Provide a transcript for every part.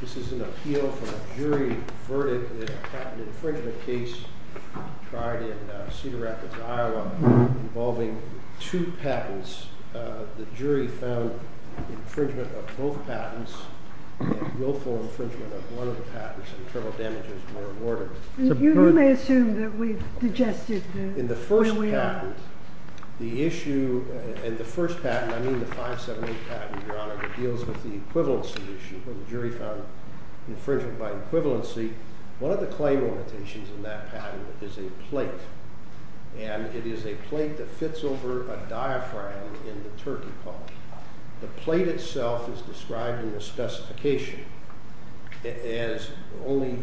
This is an appeal from a jury verdict in a patent infringement case tried in Cedar Rapids Iowa involving two patents. The jury found infringement of both patents and willful infringement of one of the patents and terrible damages may be rewarded. You may assume that we've digested where we are. And the issue, and the first patent, I mean the 578 patent, your honor, that deals with the equivalency issue where the jury found infringement by equivalency, one of the claim limitations in that patent is a plate. And it is a plate that fits over a diaphragm in the turkey paw. The plate itself is described in the specification as only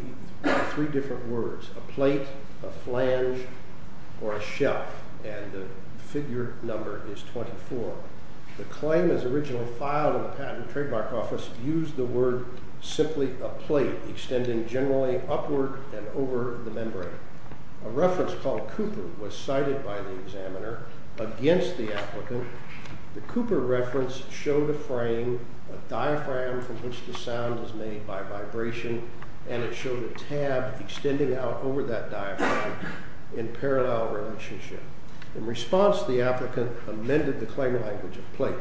three different words, a plate, a flange, or a shelf, and the figure number is 24. The claim is originally filed in the patent trademark office used the word simply a plate extending generally upward and over the membrane. A reference called Cooper was cited by the examiner against the applicant. The Cooper reference showed a frame, a diaphragm from which the sound is made by vibration, and it showed a tab extending out over that diaphragm in parallel relationship. In response, the applicant amended the claim language of plate.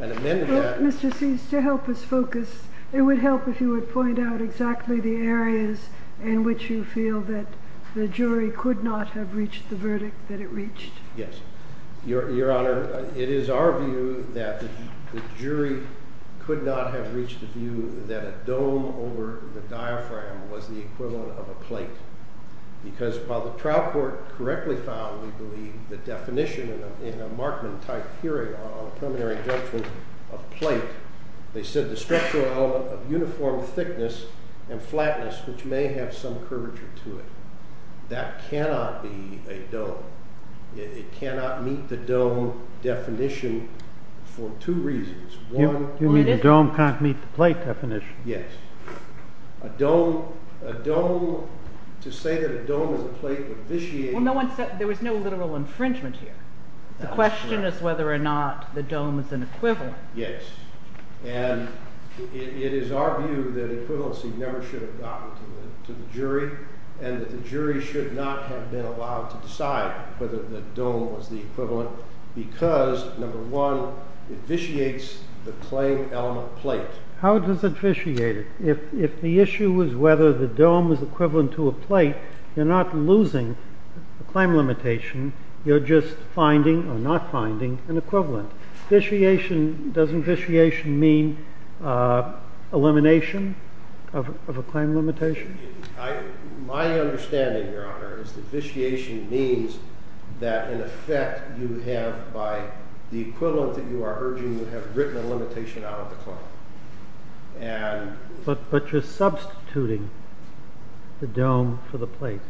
Mr. Cease, to help us focus, it would help if you would point out exactly the areas in which you feel that the jury could not have reached the verdict that it reached. Yes. Your honor, it is our view that the jury could not have reached the view that a dome over the diaphragm was the equivalent of a plate. Because while the trial court correctly found, we believe, the definition in a Markman type hearing on a preliminary judgment of plate, they said the structural element of uniform thickness and flatness which may have some curvature to it. That cannot be a dome. It cannot meet the dome definition for two reasons. You mean the dome can't meet the plate definition? Yes. A dome, to say that a dome is a plate would vitiate. There was no literal infringement here. The question is whether or not the dome is an equivalent. Yes. And it is our view that equivalency never should have gotten to the jury, and that the jury should not have been allowed to decide whether the dome was the equivalent because, number one, it vitiates the claim element plate. How does it vitiate it? If the issue was whether the dome was equivalent to a plate, you're not losing the claim limitation. You're just finding or not finding an equivalent. Doesn't vitiation mean elimination of a claim limitation? My understanding, Your Honor, is that vitiation means that, in effect, you have, by the equivalent that you are urging, you have written a limitation out of the claim. But you're substituting the dome for the plate.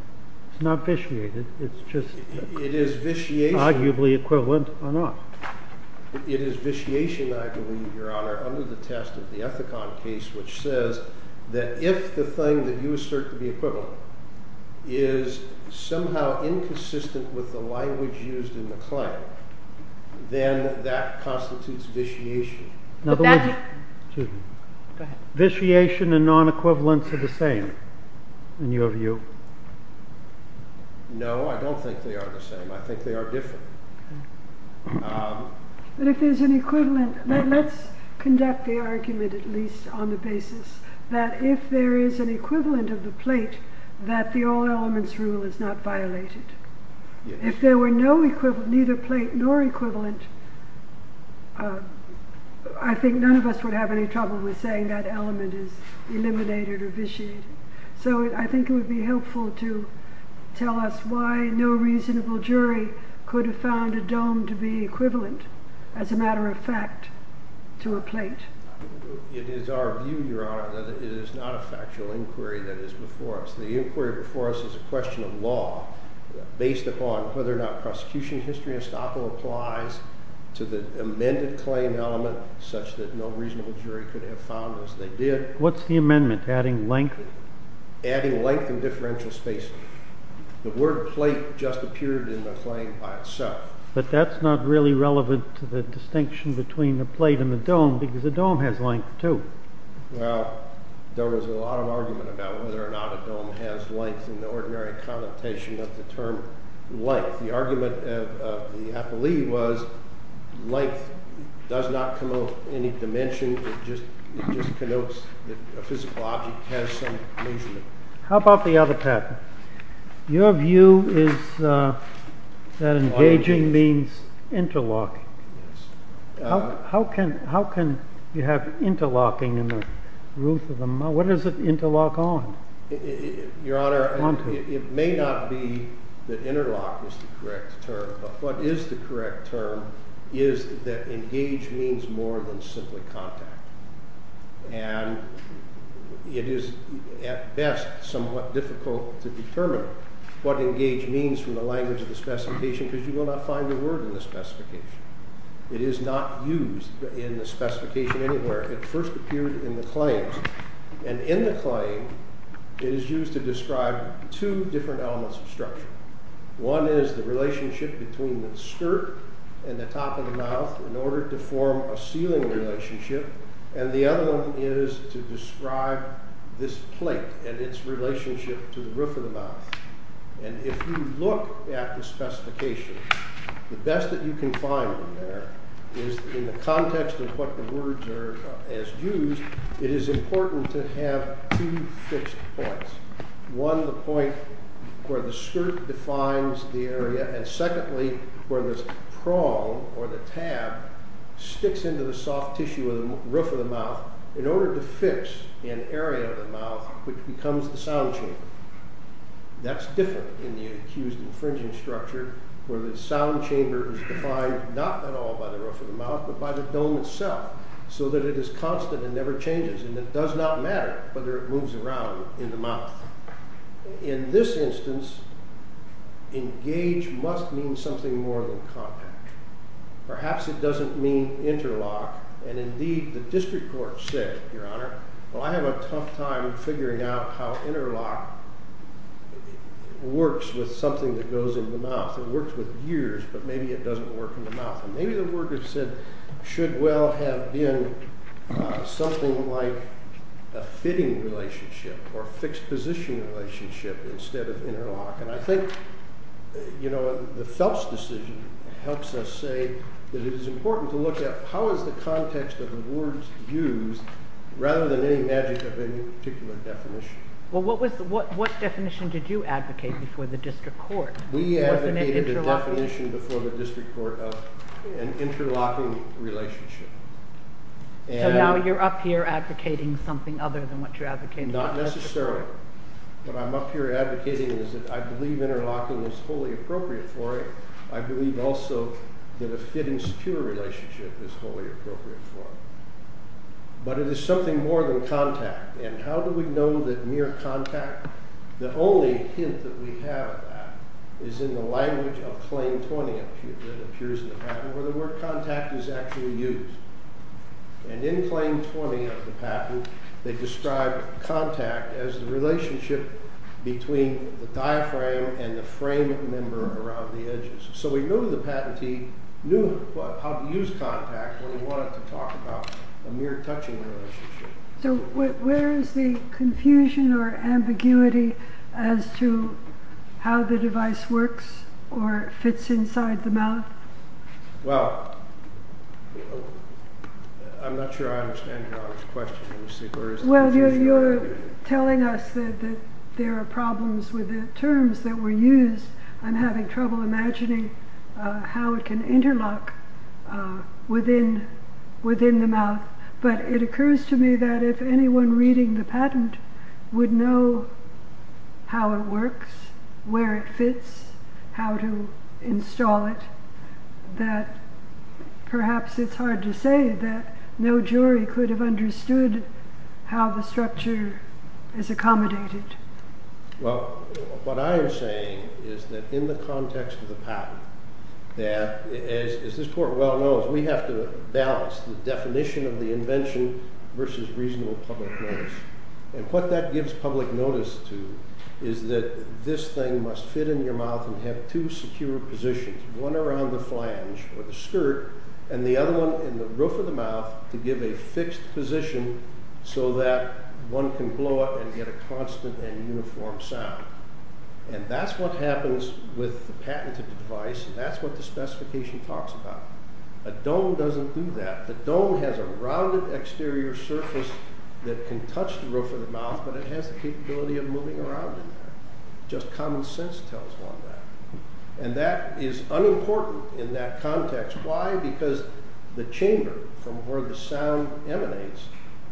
It's not vitiated. It's just arguably equivalent or not. It is vitiation, I believe, Your Honor, under the test of the Ethicon case, which says that if the thing that you assert to be equivalent is somehow inconsistent with the language used in the claim, then that constitutes vitiation. Vitiation and non-equivalence are the same, in your view? No, I don't think they are the same. I think they are different. But if there's an equivalent, let's conduct the argument at least on the basis that if there is an equivalent of the plate, that the all elements rule is not violated. If there were neither plate nor equivalent, I think none of us would have any trouble with saying that element is eliminated or vitiated. So I think it would be helpful to tell us why no reasonable jury could have found a dome to be equivalent, as a matter of fact, to a plate. It is our view, Your Honor, that it is not a factual inquiry that is before us. The inquiry before us is a question of law based upon whether or not prosecution history estoppel applies to the amended claim element such that no reasonable jury could have found as they did. What's the amendment? Adding length? Adding length and differential spacing. The word plate just appeared in the claim by itself. But that's not really relevant to the distinction between the plate and the dome, because the dome has length too. Well, there was a lot of argument about whether or not a dome has length in the ordinary connotation of the term length. The argument of the appellee was length does not commode any dimension, it just connotes that a physical object has some measurement. How about the other pattern? Your view is that engaging means interlocking. Yes. How can you have interlocking in the roof of the mouth? What does it interlock on? Your Honor, it may not be that interlock is the correct term, but what is the correct term is that engage means more than simply contact. And it is at best somewhat difficult to determine what engage means from the language of the specification because you will not find the word in the specification. It is not used in the specification anywhere. It first appeared in the claims. And in the claim, it is used to describe two different elements of structure. One is the relationship between the skirt and the top of the mouth in order to form a ceiling relationship. And the other one is to describe this plate and its relationship to the roof of the mouth. And if you look at the specification, the best that you can find in there is in the context of what the words are as used, it is important to have two fixed points. One, the point where the skirt defines the area. And secondly, where the prong or the tab sticks into the soft tissue of the roof of the mouth in order to fix an area of the mouth which becomes the sound chamber. That is different in the accused infringing structure where the sound chamber is defined not at all by the roof of the mouth, but by the dome itself. So that it is constant and never changes. And it does not matter whether it moves around in the mouth. In this instance, engage must mean something more than contact. Perhaps it doesn't mean interlock. And indeed, the district court said, Your Honor, well, I have a tough time figuring out how interlock works with something that goes in the mouth. It works with years, but maybe it doesn't work in the mouth. Maybe the word is said should well have been something like a fitting relationship or a fixed position relationship instead of interlock. And I think, you know, the Phelps decision helps us say that it is important to look at how is the context of the words used rather than any magic of any particular definition. Well, what definition did you advocate before the district court? We advocated a definition before the district court of an interlocking relationship. So now you're up here advocating something other than what you're advocating. Not necessarily. What I'm up here advocating is that I believe interlocking is wholly appropriate for it. I believe also that a fit and secure relationship is wholly appropriate for it. But it is something more than contact. And how do we know that mere contact, the only hint that we have of that, is in the language of Claim 20 that appears in the patent where the word contact is actually used. And in Claim 20 of the patent, they describe contact as the relationship between the diaphragm and the frame member around the edges. So we know the patentee knew how to use contact when we wanted to talk about a mere touching relationship. So where is the confusion or ambiguity as to how the device works or fits inside the mouth? Well, I'm not sure I understand your question. Well, you're telling us that there are problems with the terms that were used. I'm having trouble imagining how it can interlock within the mouth. But it occurs to me that if anyone reading the patent would know how it works, where it fits, how to install it, that perhaps it's hard to say that no jury could have understood how the structure is accommodated. Well, what I am saying is that in the context of the patent, that, as this court well knows, we have to balance the definition of the invention versus reasonable public notice. And what that gives public notice to is that this thing must fit in your mouth and have two secure positions, one around the flange or the skirt and the other one in the roof of the mouth to give a fixed position so that one can blow it and get a constant and uniform sound. And that's what happens with the patent of the device. That's what the specification talks about. A dome doesn't do that. The dome has a rounded exterior surface that can touch the roof of the mouth, but it has the capability of moving around in there. Just common sense tells one that. And that is unimportant in that context. Why? Because the chamber from where the sound emanates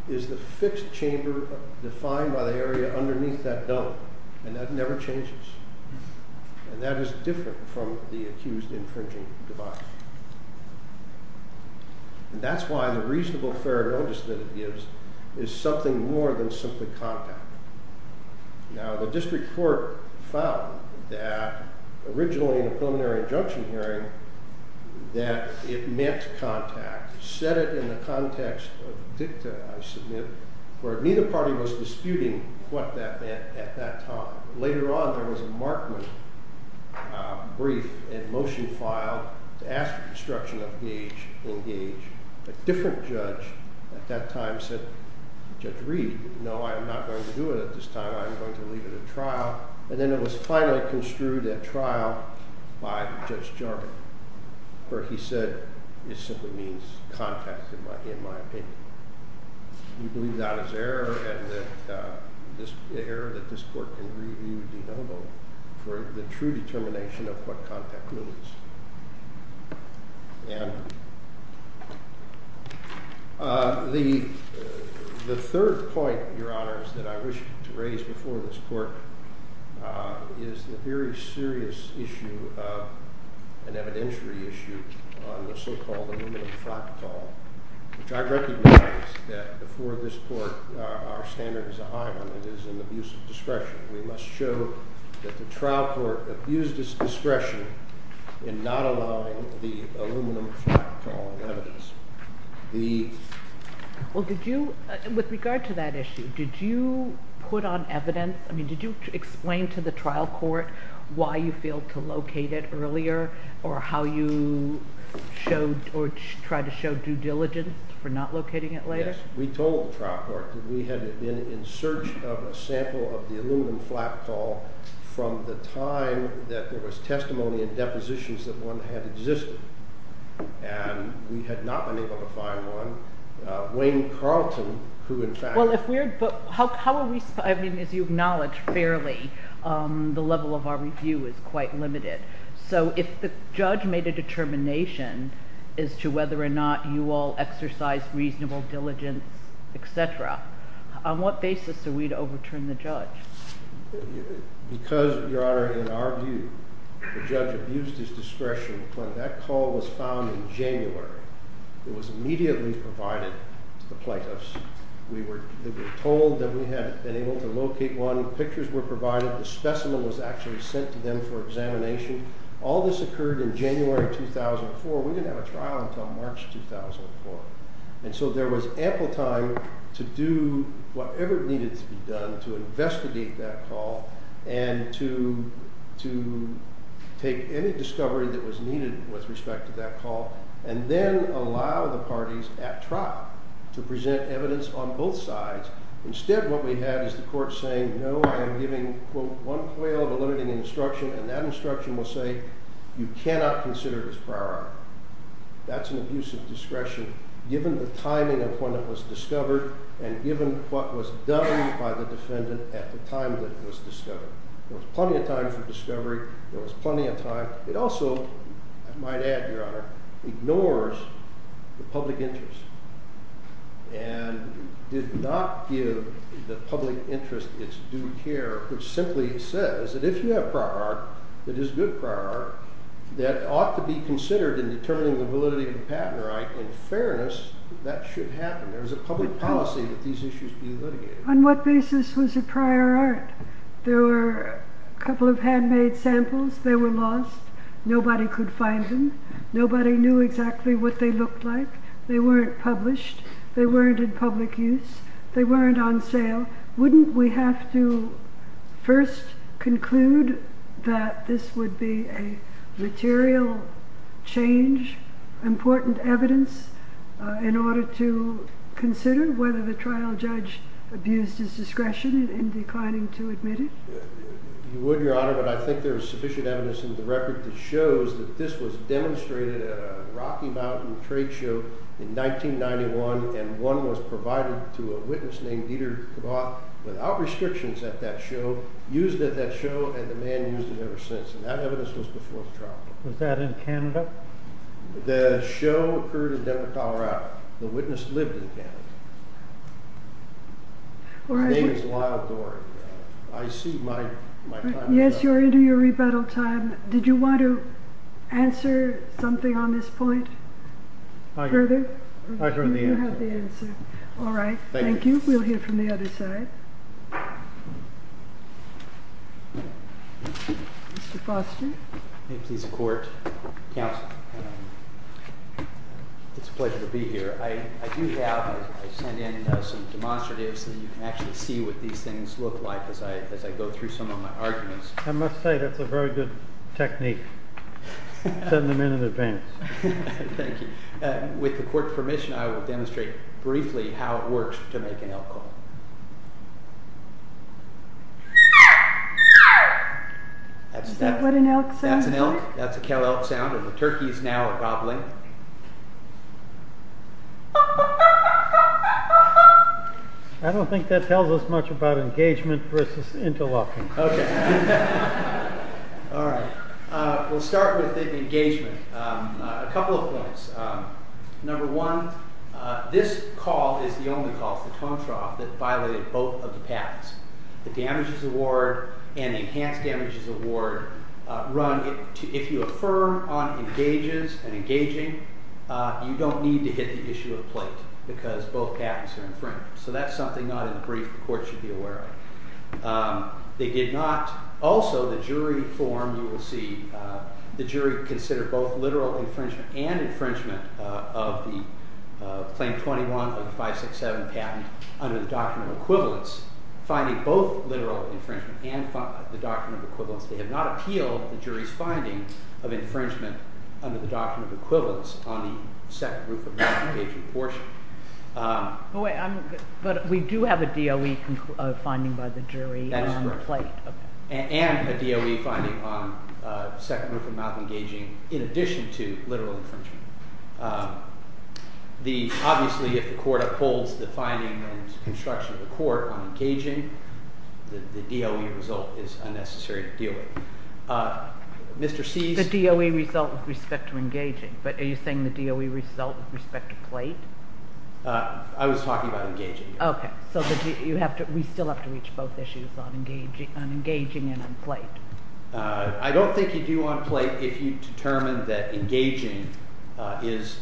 is the fixed chamber defined by the area underneath that dome. And that never changes. And that is different from the accused infringing device. And that's why the reasonable fair notice that it gives is something more than simply contact. Now, the district court found that originally in a preliminary injunction hearing that it meant contact. It said it in the context of dicta, I submit, where neither party was disputing what that meant at that time. Later on, there was a Markman brief and motion filed to ask for construction of gauge and gauge. A different judge at that time said, Judge Reed, no, I am not going to do it at this time. I am going to leave it at trial. And then it was finally construed at trial by Judge Jarman, where he said it simply means contact, in my opinion. We believe that is error and that error that this court can review de novo for the true determination of what contact means. And the third point, Your Honors, that I wish to raise before this court is the very serious issue of an evidentiary issue on the so-called aluminum fractal, which I recognize that before this court our standard is a high one. It is an abuse of discretion. We must show that the trial court abused its discretion in not allowing the aluminum fractal evidence. The... Well, did you, with regard to that issue, did you put on evidence, I mean, did you explain to the trial court why you failed to locate it earlier or how you showed or tried to show due diligence for not locating it later? We told the trial court that we had been in search of a sample of the aluminum fractal from the time that there was testimony and depositions that one had existed. And we had not been able to find one. Wayne Carlton, who in fact... Well, if we're... How are we... I mean, as you acknowledge fairly, the level of our review is quite limited. So if the judge made a determination as to whether or not you all exercised reasonable diligence, et cetera, on what basis are we to overturn the judge? Because, Your Honor, in our view, the judge abused his discretion. When that call was found in January, it was immediately provided to the plaintiffs. We were told that we had been able to locate one. Pictures were provided. The specimen was actually sent to them for examination. All this occurred in January 2004. We didn't have a trial until March 2004. And so there was ample time to do whatever needed to be done to investigate that call and to take any discovery that was needed with respect to that call and then allow the parties at trial to present evidence on both sides. Instead, what we had is the court saying, no, I am giving, quote, one quail of a limiting instruction, and that instruction will say you cannot consider it as prior art. That's an abuse of discretion given the timing of when it was discovered and given what was done by the defendant at the time that it was discovered. There was plenty of time for discovery. There was plenty of time. It also, I might add, Your Honor, ignores the public interest and did not give the public interest its due care. Which simply says that if you have prior art, that is good prior art, that ought to be considered in determining the validity of the patent. In fairness, that should happen. There is a public policy that these issues be litigated. On what basis was it prior art? There were a couple of handmade samples. They were lost. Nobody could find them. Nobody knew exactly what they looked like. They weren't published. They weren't in public use. They weren't on sale. Wouldn't we have to first conclude that this would be a material change, important evidence, in order to consider whether the trial judge abused his discretion in declining to admit it? You would, Your Honor, but I think there is sufficient evidence in the record that shows that this was demonstrated at a Rocky Mountain trade show in 1991, and one was provided to a witness named Dieter Kvoth without restrictions at that show, used at that show, and the man used it ever since. And that evidence was before the trial. Was that in Canada? The show occurred in Denver, Colorado. The witness lived in Canada. My name is Lyle Doerr. I see my time is up. Yes, you are into your rebuttal time. Did you want to answer something on this point further? I heard the answer. You have the answer. All right. Thank you. We'll hear from the other side. Mr. Foster? May it please the Court, Counsel, it's a pleasure to be here. I do have, I sent in some demonstratives so you can actually see what these things look like as I go through some of my arguments. I must say that's a very good technique. Send them in in advance. Thank you. With the Court's permission, I will demonstrate briefly how it works to make an elk call. Is that what an elk sounds like? That's an elk. That's a cow elk sound. The turkeys now are gobbling. I don't think that tells us much about engagement versus interlocking. Okay. All right. We'll start with engagement. A couple of points. Number one, this call is the only call, the tone trough that violated both of the patents. The Damages Award and the Enhanced Damages Award run, if you affirm on engages and engaging, you don't need to hit the issue of plate because both patents are infringed. So that's something not in the brief the Court should be aware of. They did not also, the jury form you will see, the jury considered both literal infringement and infringement of the Claim 21 of the 567 patent under the Doctrine of Equivalence, finding both literal infringement and the Doctrine of Equivalence. They have not appealed the jury's finding of infringement under the Doctrine of Equivalence on the second group of the engagement portion. But we do have a DOE finding by the jury on plate. That is correct. And a DOE finding on second group of not engaging in addition to literal infringement. Obviously, if the Court upholds the finding and construction of the Court on engaging, the DOE result is unnecessary to deal with. The DOE result with respect to engaging, but are you saying the DOE result with respect to plate? I was talking about engaging. Okay. So you have to, we still have to reach both issues on engaging and on plate. I don't think you do on plate if you determine that engaging is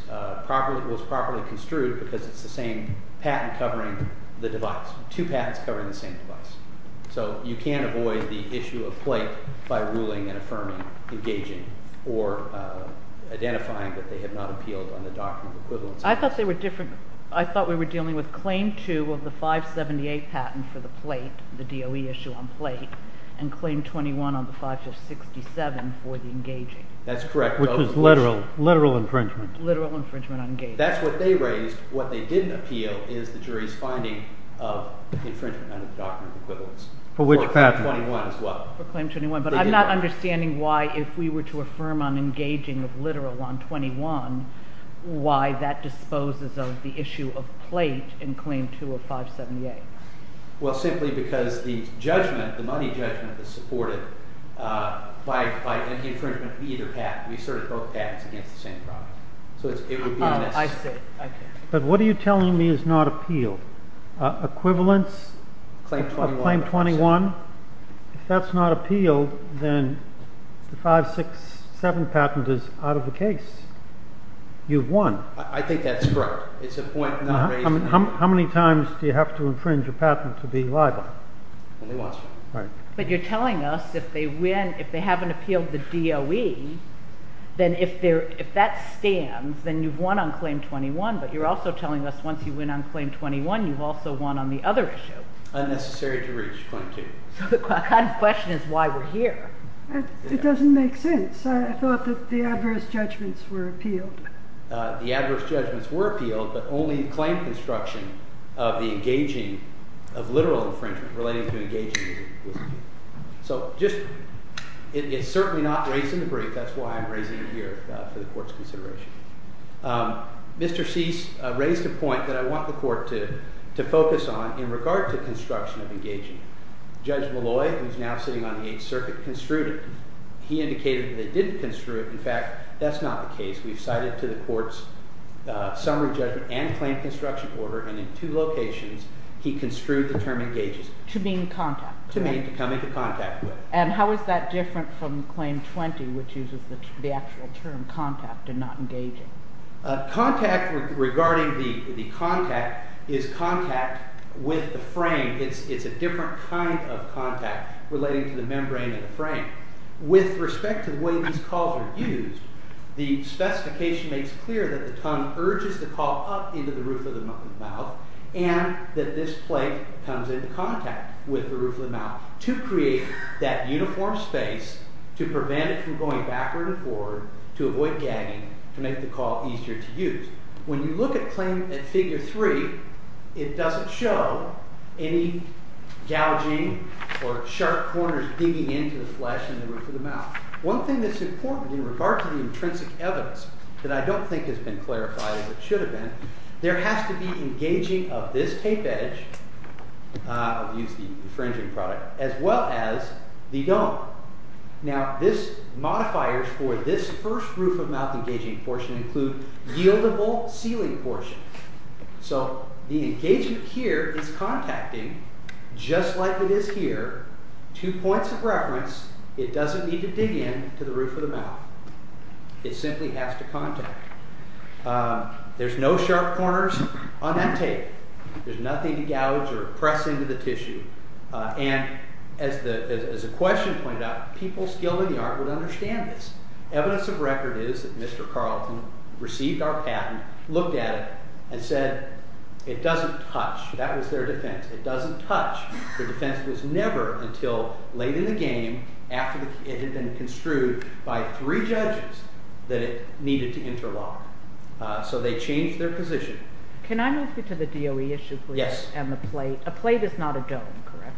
properly, was properly construed because it's the same patent covering the device, two patents covering the same device. So you can't avoid the issue of plate by ruling and affirming engaging I thought they were different. I thought we were dealing with claim two of the 578 patent for the plate, the DOE issue on plate, and claim 21 on the 5567 for the engaging. That's correct. Which is literal infringement. Literal infringement on engaging. That's what they raised. What they didn't appeal is the jury's finding of infringement under the Doctrine of Equivalence. For which patent? For claim 21 as well. For claim 21. But I'm not understanding why if we were to affirm on engaging of literal on 21, why that disposes of the issue of plate in claim two of 578. Well, simply because the judgment, the money judgment, is supported by the infringement of either patent. We asserted both patents against the same product. Oh, I see. But what are you telling me is not appealed? Equivalence of claim 21? If that's not appealed, then the 567 patent is out of the case. You've won. I think that's correct. It's a point not raised. How many times do you have to infringe a patent to be liable? Only once. Right. But you're telling us if they win, if they haven't appealed the DOE, then if that stands, then you've won on claim 21, but you're also telling us once you win on claim 21, you've also won on the other issue. Unnecessary to reach, claim two. So the question is why we're here. It doesn't make sense. I thought that the adverse judgments were appealed. The adverse judgments were appealed, but only in claim construction of the engaging of literal infringement relating to engaging. So it's certainly not raised in the brief. That's why I'm raising it here for the court's consideration. Mr. Cease raised a point that I want the court to focus on in regard to construction of engaging. Judge Malloy, who's now sitting on the Eighth Circuit, construed it. He indicated that they didn't construe it. In fact, that's not the case. We've cited to the court's summary judgment and claim construction order, and in two locations he construed the term engages. To mean contact. To mean coming to contact with. And how is that different from claim 20, which uses the actual term contact and not engaging? Contact regarding the contact is contact with the frame. It's a different kind of contact relating to the membrane of the frame. With respect to the way these calls are used, the specification makes clear that the tongue urges the call up into the roof of the mouth, and that this plate comes into contact with the roof of the mouth to make the call easier to use. When you look at claim at figure 3, it doesn't show any gouging or sharp corners digging into the flesh in the roof of the mouth. One thing that's important in regard to the intrinsic evidence that I don't think has been clarified, as it should have been, there has to be engaging of this tape edge, I'll use the infringing product, as well as the dome. Now, this modifiers for this first roof of mouth engaging portion include yieldable sealing portions. So the engagement here is contacting, just like it is here, two points of reference. It doesn't need to dig in to the roof of the mouth. It simply has to contact. There's no sharp corners on that tape. There's nothing to gouge or press into the tissue. And as the question pointed out, people skilled in the art would understand this. Evidence of record is that Mr. Carlton received our patent, looked at it, and said it doesn't touch. That was their defense. It doesn't touch. Their defense was never until late in the game, after it had been construed by three judges, that it needed to interlock. So they changed their position. Can I move you to the DOE issue, please? Yes. And the plate. A plate is not a dome, correct?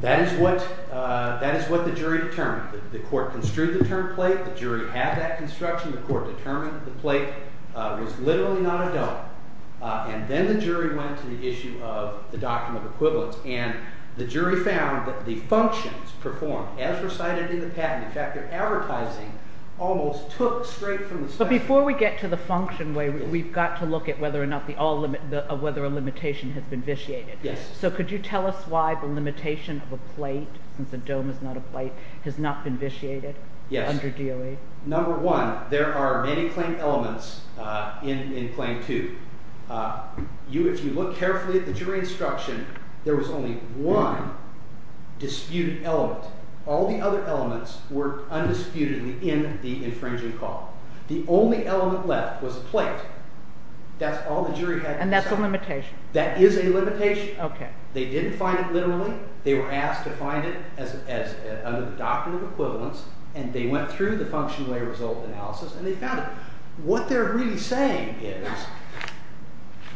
That is what the jury determined. The court construed the term plate. The jury had that construction. The court determined the plate was literally not a dome. And then the jury went to the issue of the Doctrine of Equivalence, and the jury found that the functions performed, as recited in the patent, in fact, their advertising almost took straight from the statute. But before we get to the function way, we've got to look at whether or not a limitation has been vitiated. Yes. So could you tell us why the limitation of a plate, since a dome is not a plate, has not been vitiated under DOE? Yes. Number one, there are many claim elements in claim two. If you look carefully at the jury instruction, there was only one disputed element. All the other elements were undisputedly in the infringing call. The only element left was a plate. That's all the jury had to say. And that's a limitation. That is a limitation. Okay. They didn't find it literally. They were asked to find it under the Doctrine of Equivalence, and they went through the function way result analysis, and they found it. What they're really saying is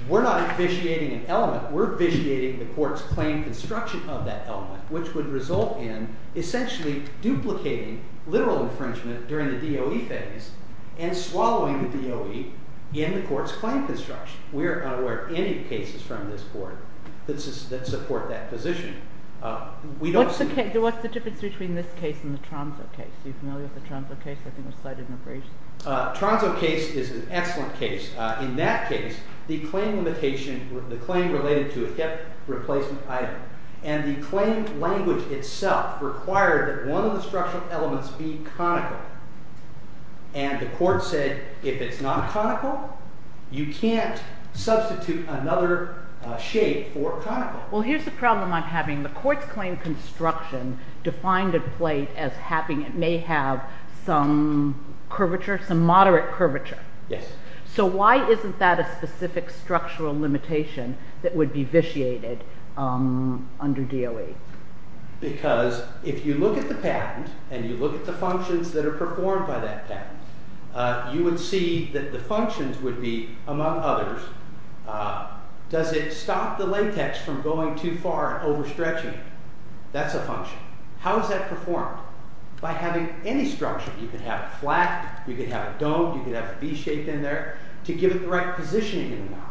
we're not vitiating an element. We're vitiating the court's claim construction of that element, which would result in essentially duplicating literal infringement during the DOE phase and swallowing the DOE in the court's claim construction. We are unaware of any cases from this court that support that position. What's the difference between this case and the Tronso case? Are you familiar with the Tronso case? I think it was cited in a brief. The Tronso case is an excellent case. In that case, the claim related to a kept replacement item, and the claim language itself required that one of the structural elements be conical, and the court said if it's not conical, you can't substitute another shape for conical. Well, here's the problem I'm having. The court's claim construction defined a plate as having it may have some curvature, some moderate curvature. Yes. So why isn't that a specific structural limitation that would be vitiated under DOE? Because if you look at the patent, and you look at the functions that are performed by that patent, you would see that the functions would be, among others, does it stop the latex from going too far and overstretching it? That's a function. How is that performed? By having any structure. You can have it flat, you can have it domed, you can have it V-shaped in there to give it the right positioning in the mouth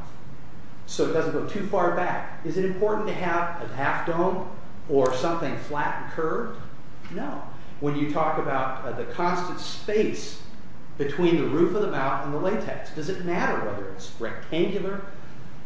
so it doesn't go too far back. Is it important to have a half dome or something flat and curved? No. When you talk about the constant space between the roof of the mouth and the latex, does it matter whether it's rectangular,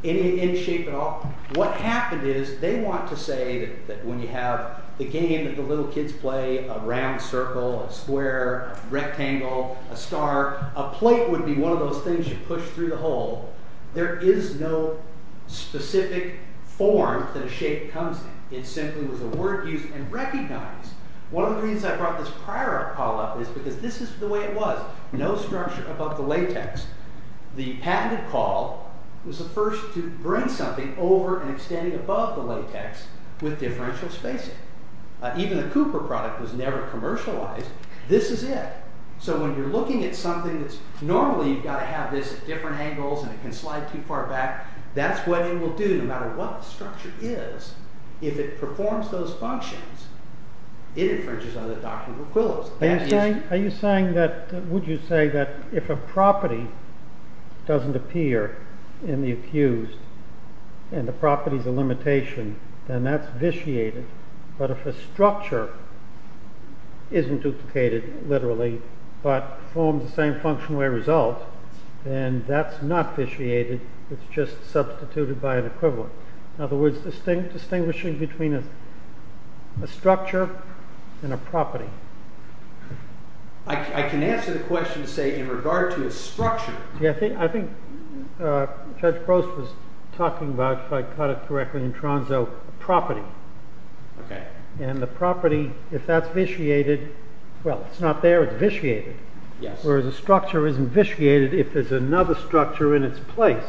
any shape at all? What happened is they want to say that when you have the game that the little kids play, a round circle, a square, a rectangle, a star, a plate would be one of those things you push through the hole. There is no specific form that a shape comes in. It simply was a word used and recognized. One of the reasons I brought this prior call up is because this is the way it was. No structure above the latex. The patented call was the first to bring something over and extending above the latex with differential spacing. Even the Cooper product was never commercialized. This is it. So when you're looking at something that's, normally you've got to have this at different angles and it can slide too far back. That's what it will do no matter what the structure is. If it performs those functions, it infringes on the doctrinal quill. Are you saying that, would you say that if a property doesn't appear in the accused and the property is a limitation, then that's vitiated. But if a structure isn't duplicated, literally, but forms the same functional result, then that's not vitiated. It's just substituted by an equivalent. In other words, distinguishing between a structure and a property. I can answer the question, say, in regard to a structure. I think Judge Gross was talking about, if I caught it correctly in Tronzo, a property. And the property, if that's vitiated, well, it's not there, it's vitiated. Whereas a structure isn't vitiated if there's another structure in its place.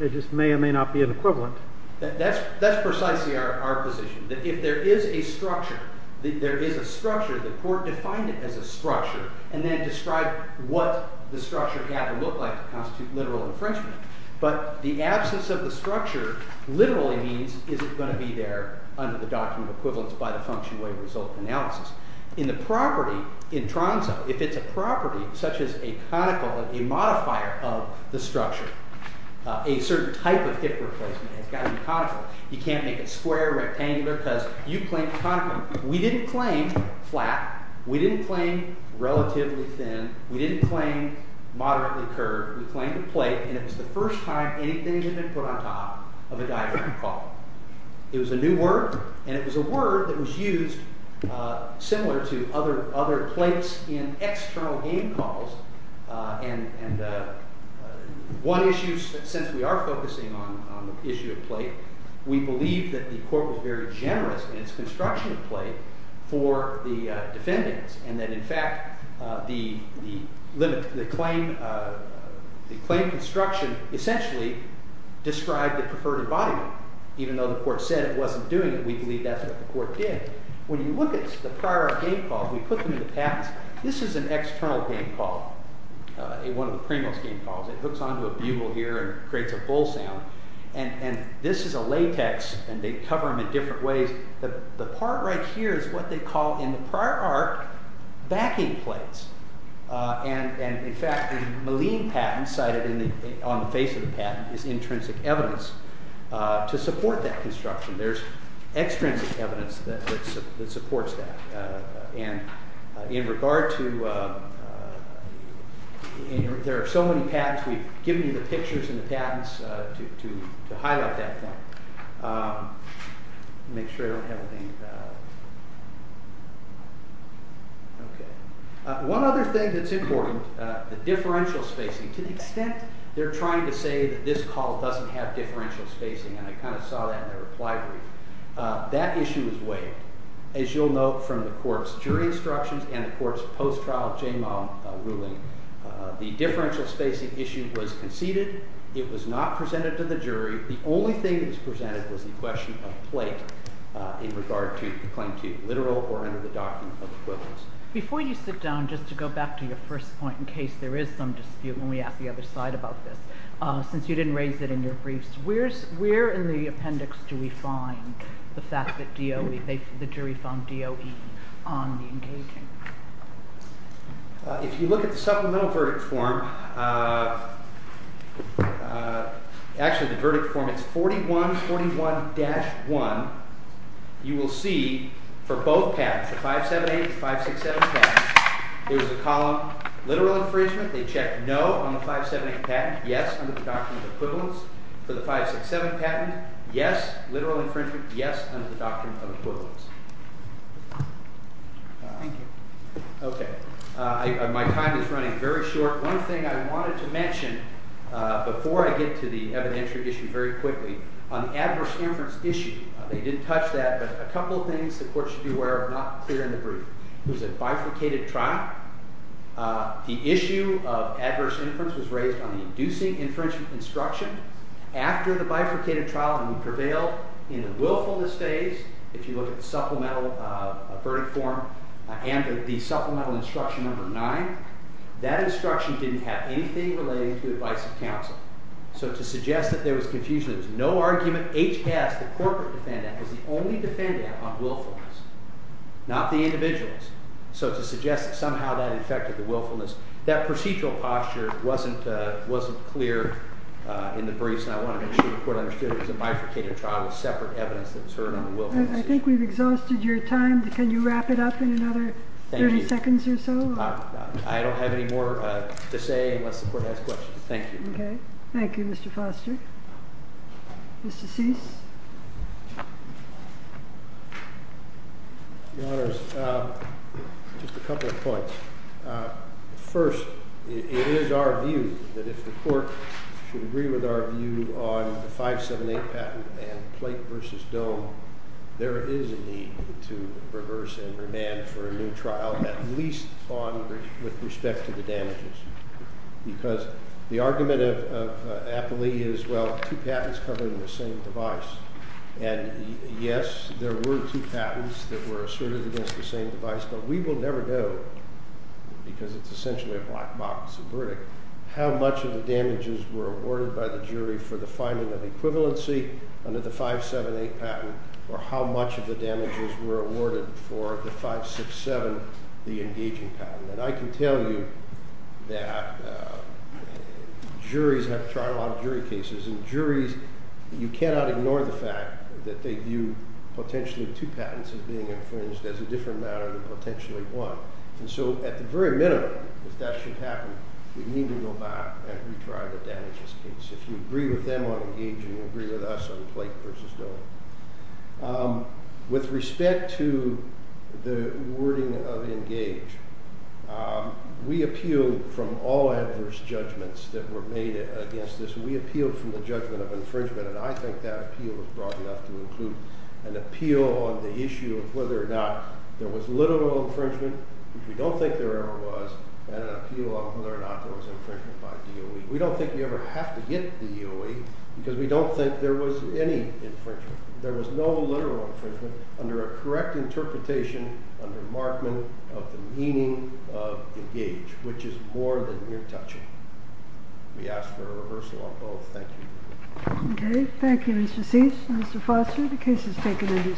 It just may or may not be an equivalent. That's precisely our position. If there is a structure, the court defined it as a structure and then described what the structure had to look like to constitute literal infringement. But the absence of the structure literally means, is it going to be there under the document of equivalence by the function wave result analysis. In the property, in Tronzo, if it's a property such as a conical, a modifier of the structure, a certain type of hip replacement has got to be conical. You can't make it square, rectangular, because you claim conical. We didn't claim flat. We didn't claim relatively thin. We didn't claim moderately curved. We claimed a plate. And it was the first time anything had been put on top of a diagram call. It was a new word, and it was a word that was used similar to other plates in external game calls. And one issue, since we are focusing on the issue of plate, we believe that the court was very generous in its construction of plate for the defendants and that, in fact, the claim construction essentially described the preferred embodiment. Even though the court said it wasn't doing it, we believe that's what the court did. When you look at the prior game calls, we put them in the past. This is an external game call, one of the Primo's game calls. It hooks onto a bugle here and creates a bull sound. And this is a latex, and they cover them in different ways. The part right here is what they call in the prior arc backing plates. And, in fact, the Maligne patent cited on the face of the patent is intrinsic evidence to support that construction. There's extrinsic evidence that supports that. There are so many patents, we've given you the pictures of the patents to highlight that point. One other thing that's important, the differential spacing. To the extent they're trying to say that this call doesn't have differential spacing, and I kind of saw that in their reply brief, that issue is waived. As you'll note from the court's jury instructions and the court's post-trial JMA ruling, the differential spacing issue was conceded. It was not presented to the jury. The only thing that was presented was the question of plate in regard to the claim to literal or under the document of equivalence. Before you sit down, just to go back to your first point in case there is some dispute when we ask the other side about this, since you didn't raise it in your briefs, where in the appendix do we find the fact that DOE, the jury found DOE on the engaging? If you look at the supplemental verdict form, actually the verdict form, it's 4141-1. You will see for both patents, the 578 and 567 patents, there's a column, literal infringement, they check no on the 578 patent, yes, under the document of equivalence. For the 567 patent, yes, literal infringement, yes, under the document of equivalence. Okay. My time is running very short. One thing I wanted to mention before I get to the evidentiary issue very quickly, on the adverse inference issue, they didn't touch that, but a couple of things the court should be aware of, not clear in the brief. It was a bifurcated trial. The issue of adverse inference was raised on the inducing inferential instruction. After the bifurcated trial, and we prevail in the willfulness phase, if you look at the supplemental verdict form and the supplemental instruction number 9, that instruction didn't have anything relating to the advice of counsel. So to suggest that there was confusion, there was no argument, HS, the corporate defendant, was the only defendant on willfulness, not the individuals. So to suggest that somehow that affected the willfulness, that procedural posture wasn't clear in the briefs, and I want to make sure the court understood it was a bifurcated trial, a separate evidence that was heard on the willfulness issue. I think we've exhausted your time. Can you wrap it up in another 30 seconds or so? I don't have any more to say unless the court has questions. Okay. Thank you, Mr. Foster. Mr. Cease. Your Honors, just a couple of points. First, it is our view that if the court should agree with our view on the 578 patent and plate versus dome, there is a need to reverse and remand for a new trial, at least with respect to the damages. Because the argument of Appley is, well, two patents covering the same device. And, yes, there were two patents that were asserted against the same device, but we will never know, because it's essentially a black box verdict, how much of the damages were awarded by the jury for the finding of equivalency under the 578 patent or how much of the damages were awarded for the 567, the engaging patent. And I can tell you that juries have trial on jury cases, and juries, you cannot ignore the fact that they view potentially two patents as being infringed as a different matter than potentially one. And so at the very minimum, if that should happen, we need to go back and retry the damages case. If you agree with them on engage and you agree with us on plate versus dome. With respect to the wording of engage, we appeal from all adverse judgments that were made against this, and we appeal from the judgment of infringement, and I think that appeal is broad enough to include an appeal on the issue of whether or not there was literal infringement, which we don't think there ever was, and an appeal on whether or not there was infringement by DOE. We don't think we ever have to get DOE, because we don't think there was any infringement. There was no literal infringement under a correct interpretation under Markman of the meaning of engage, which is more than we're touching. We ask for a reversal on both. Thank you. Okay. Thank you, Mr. Cease. Mr. Foster, the case is taken under submission.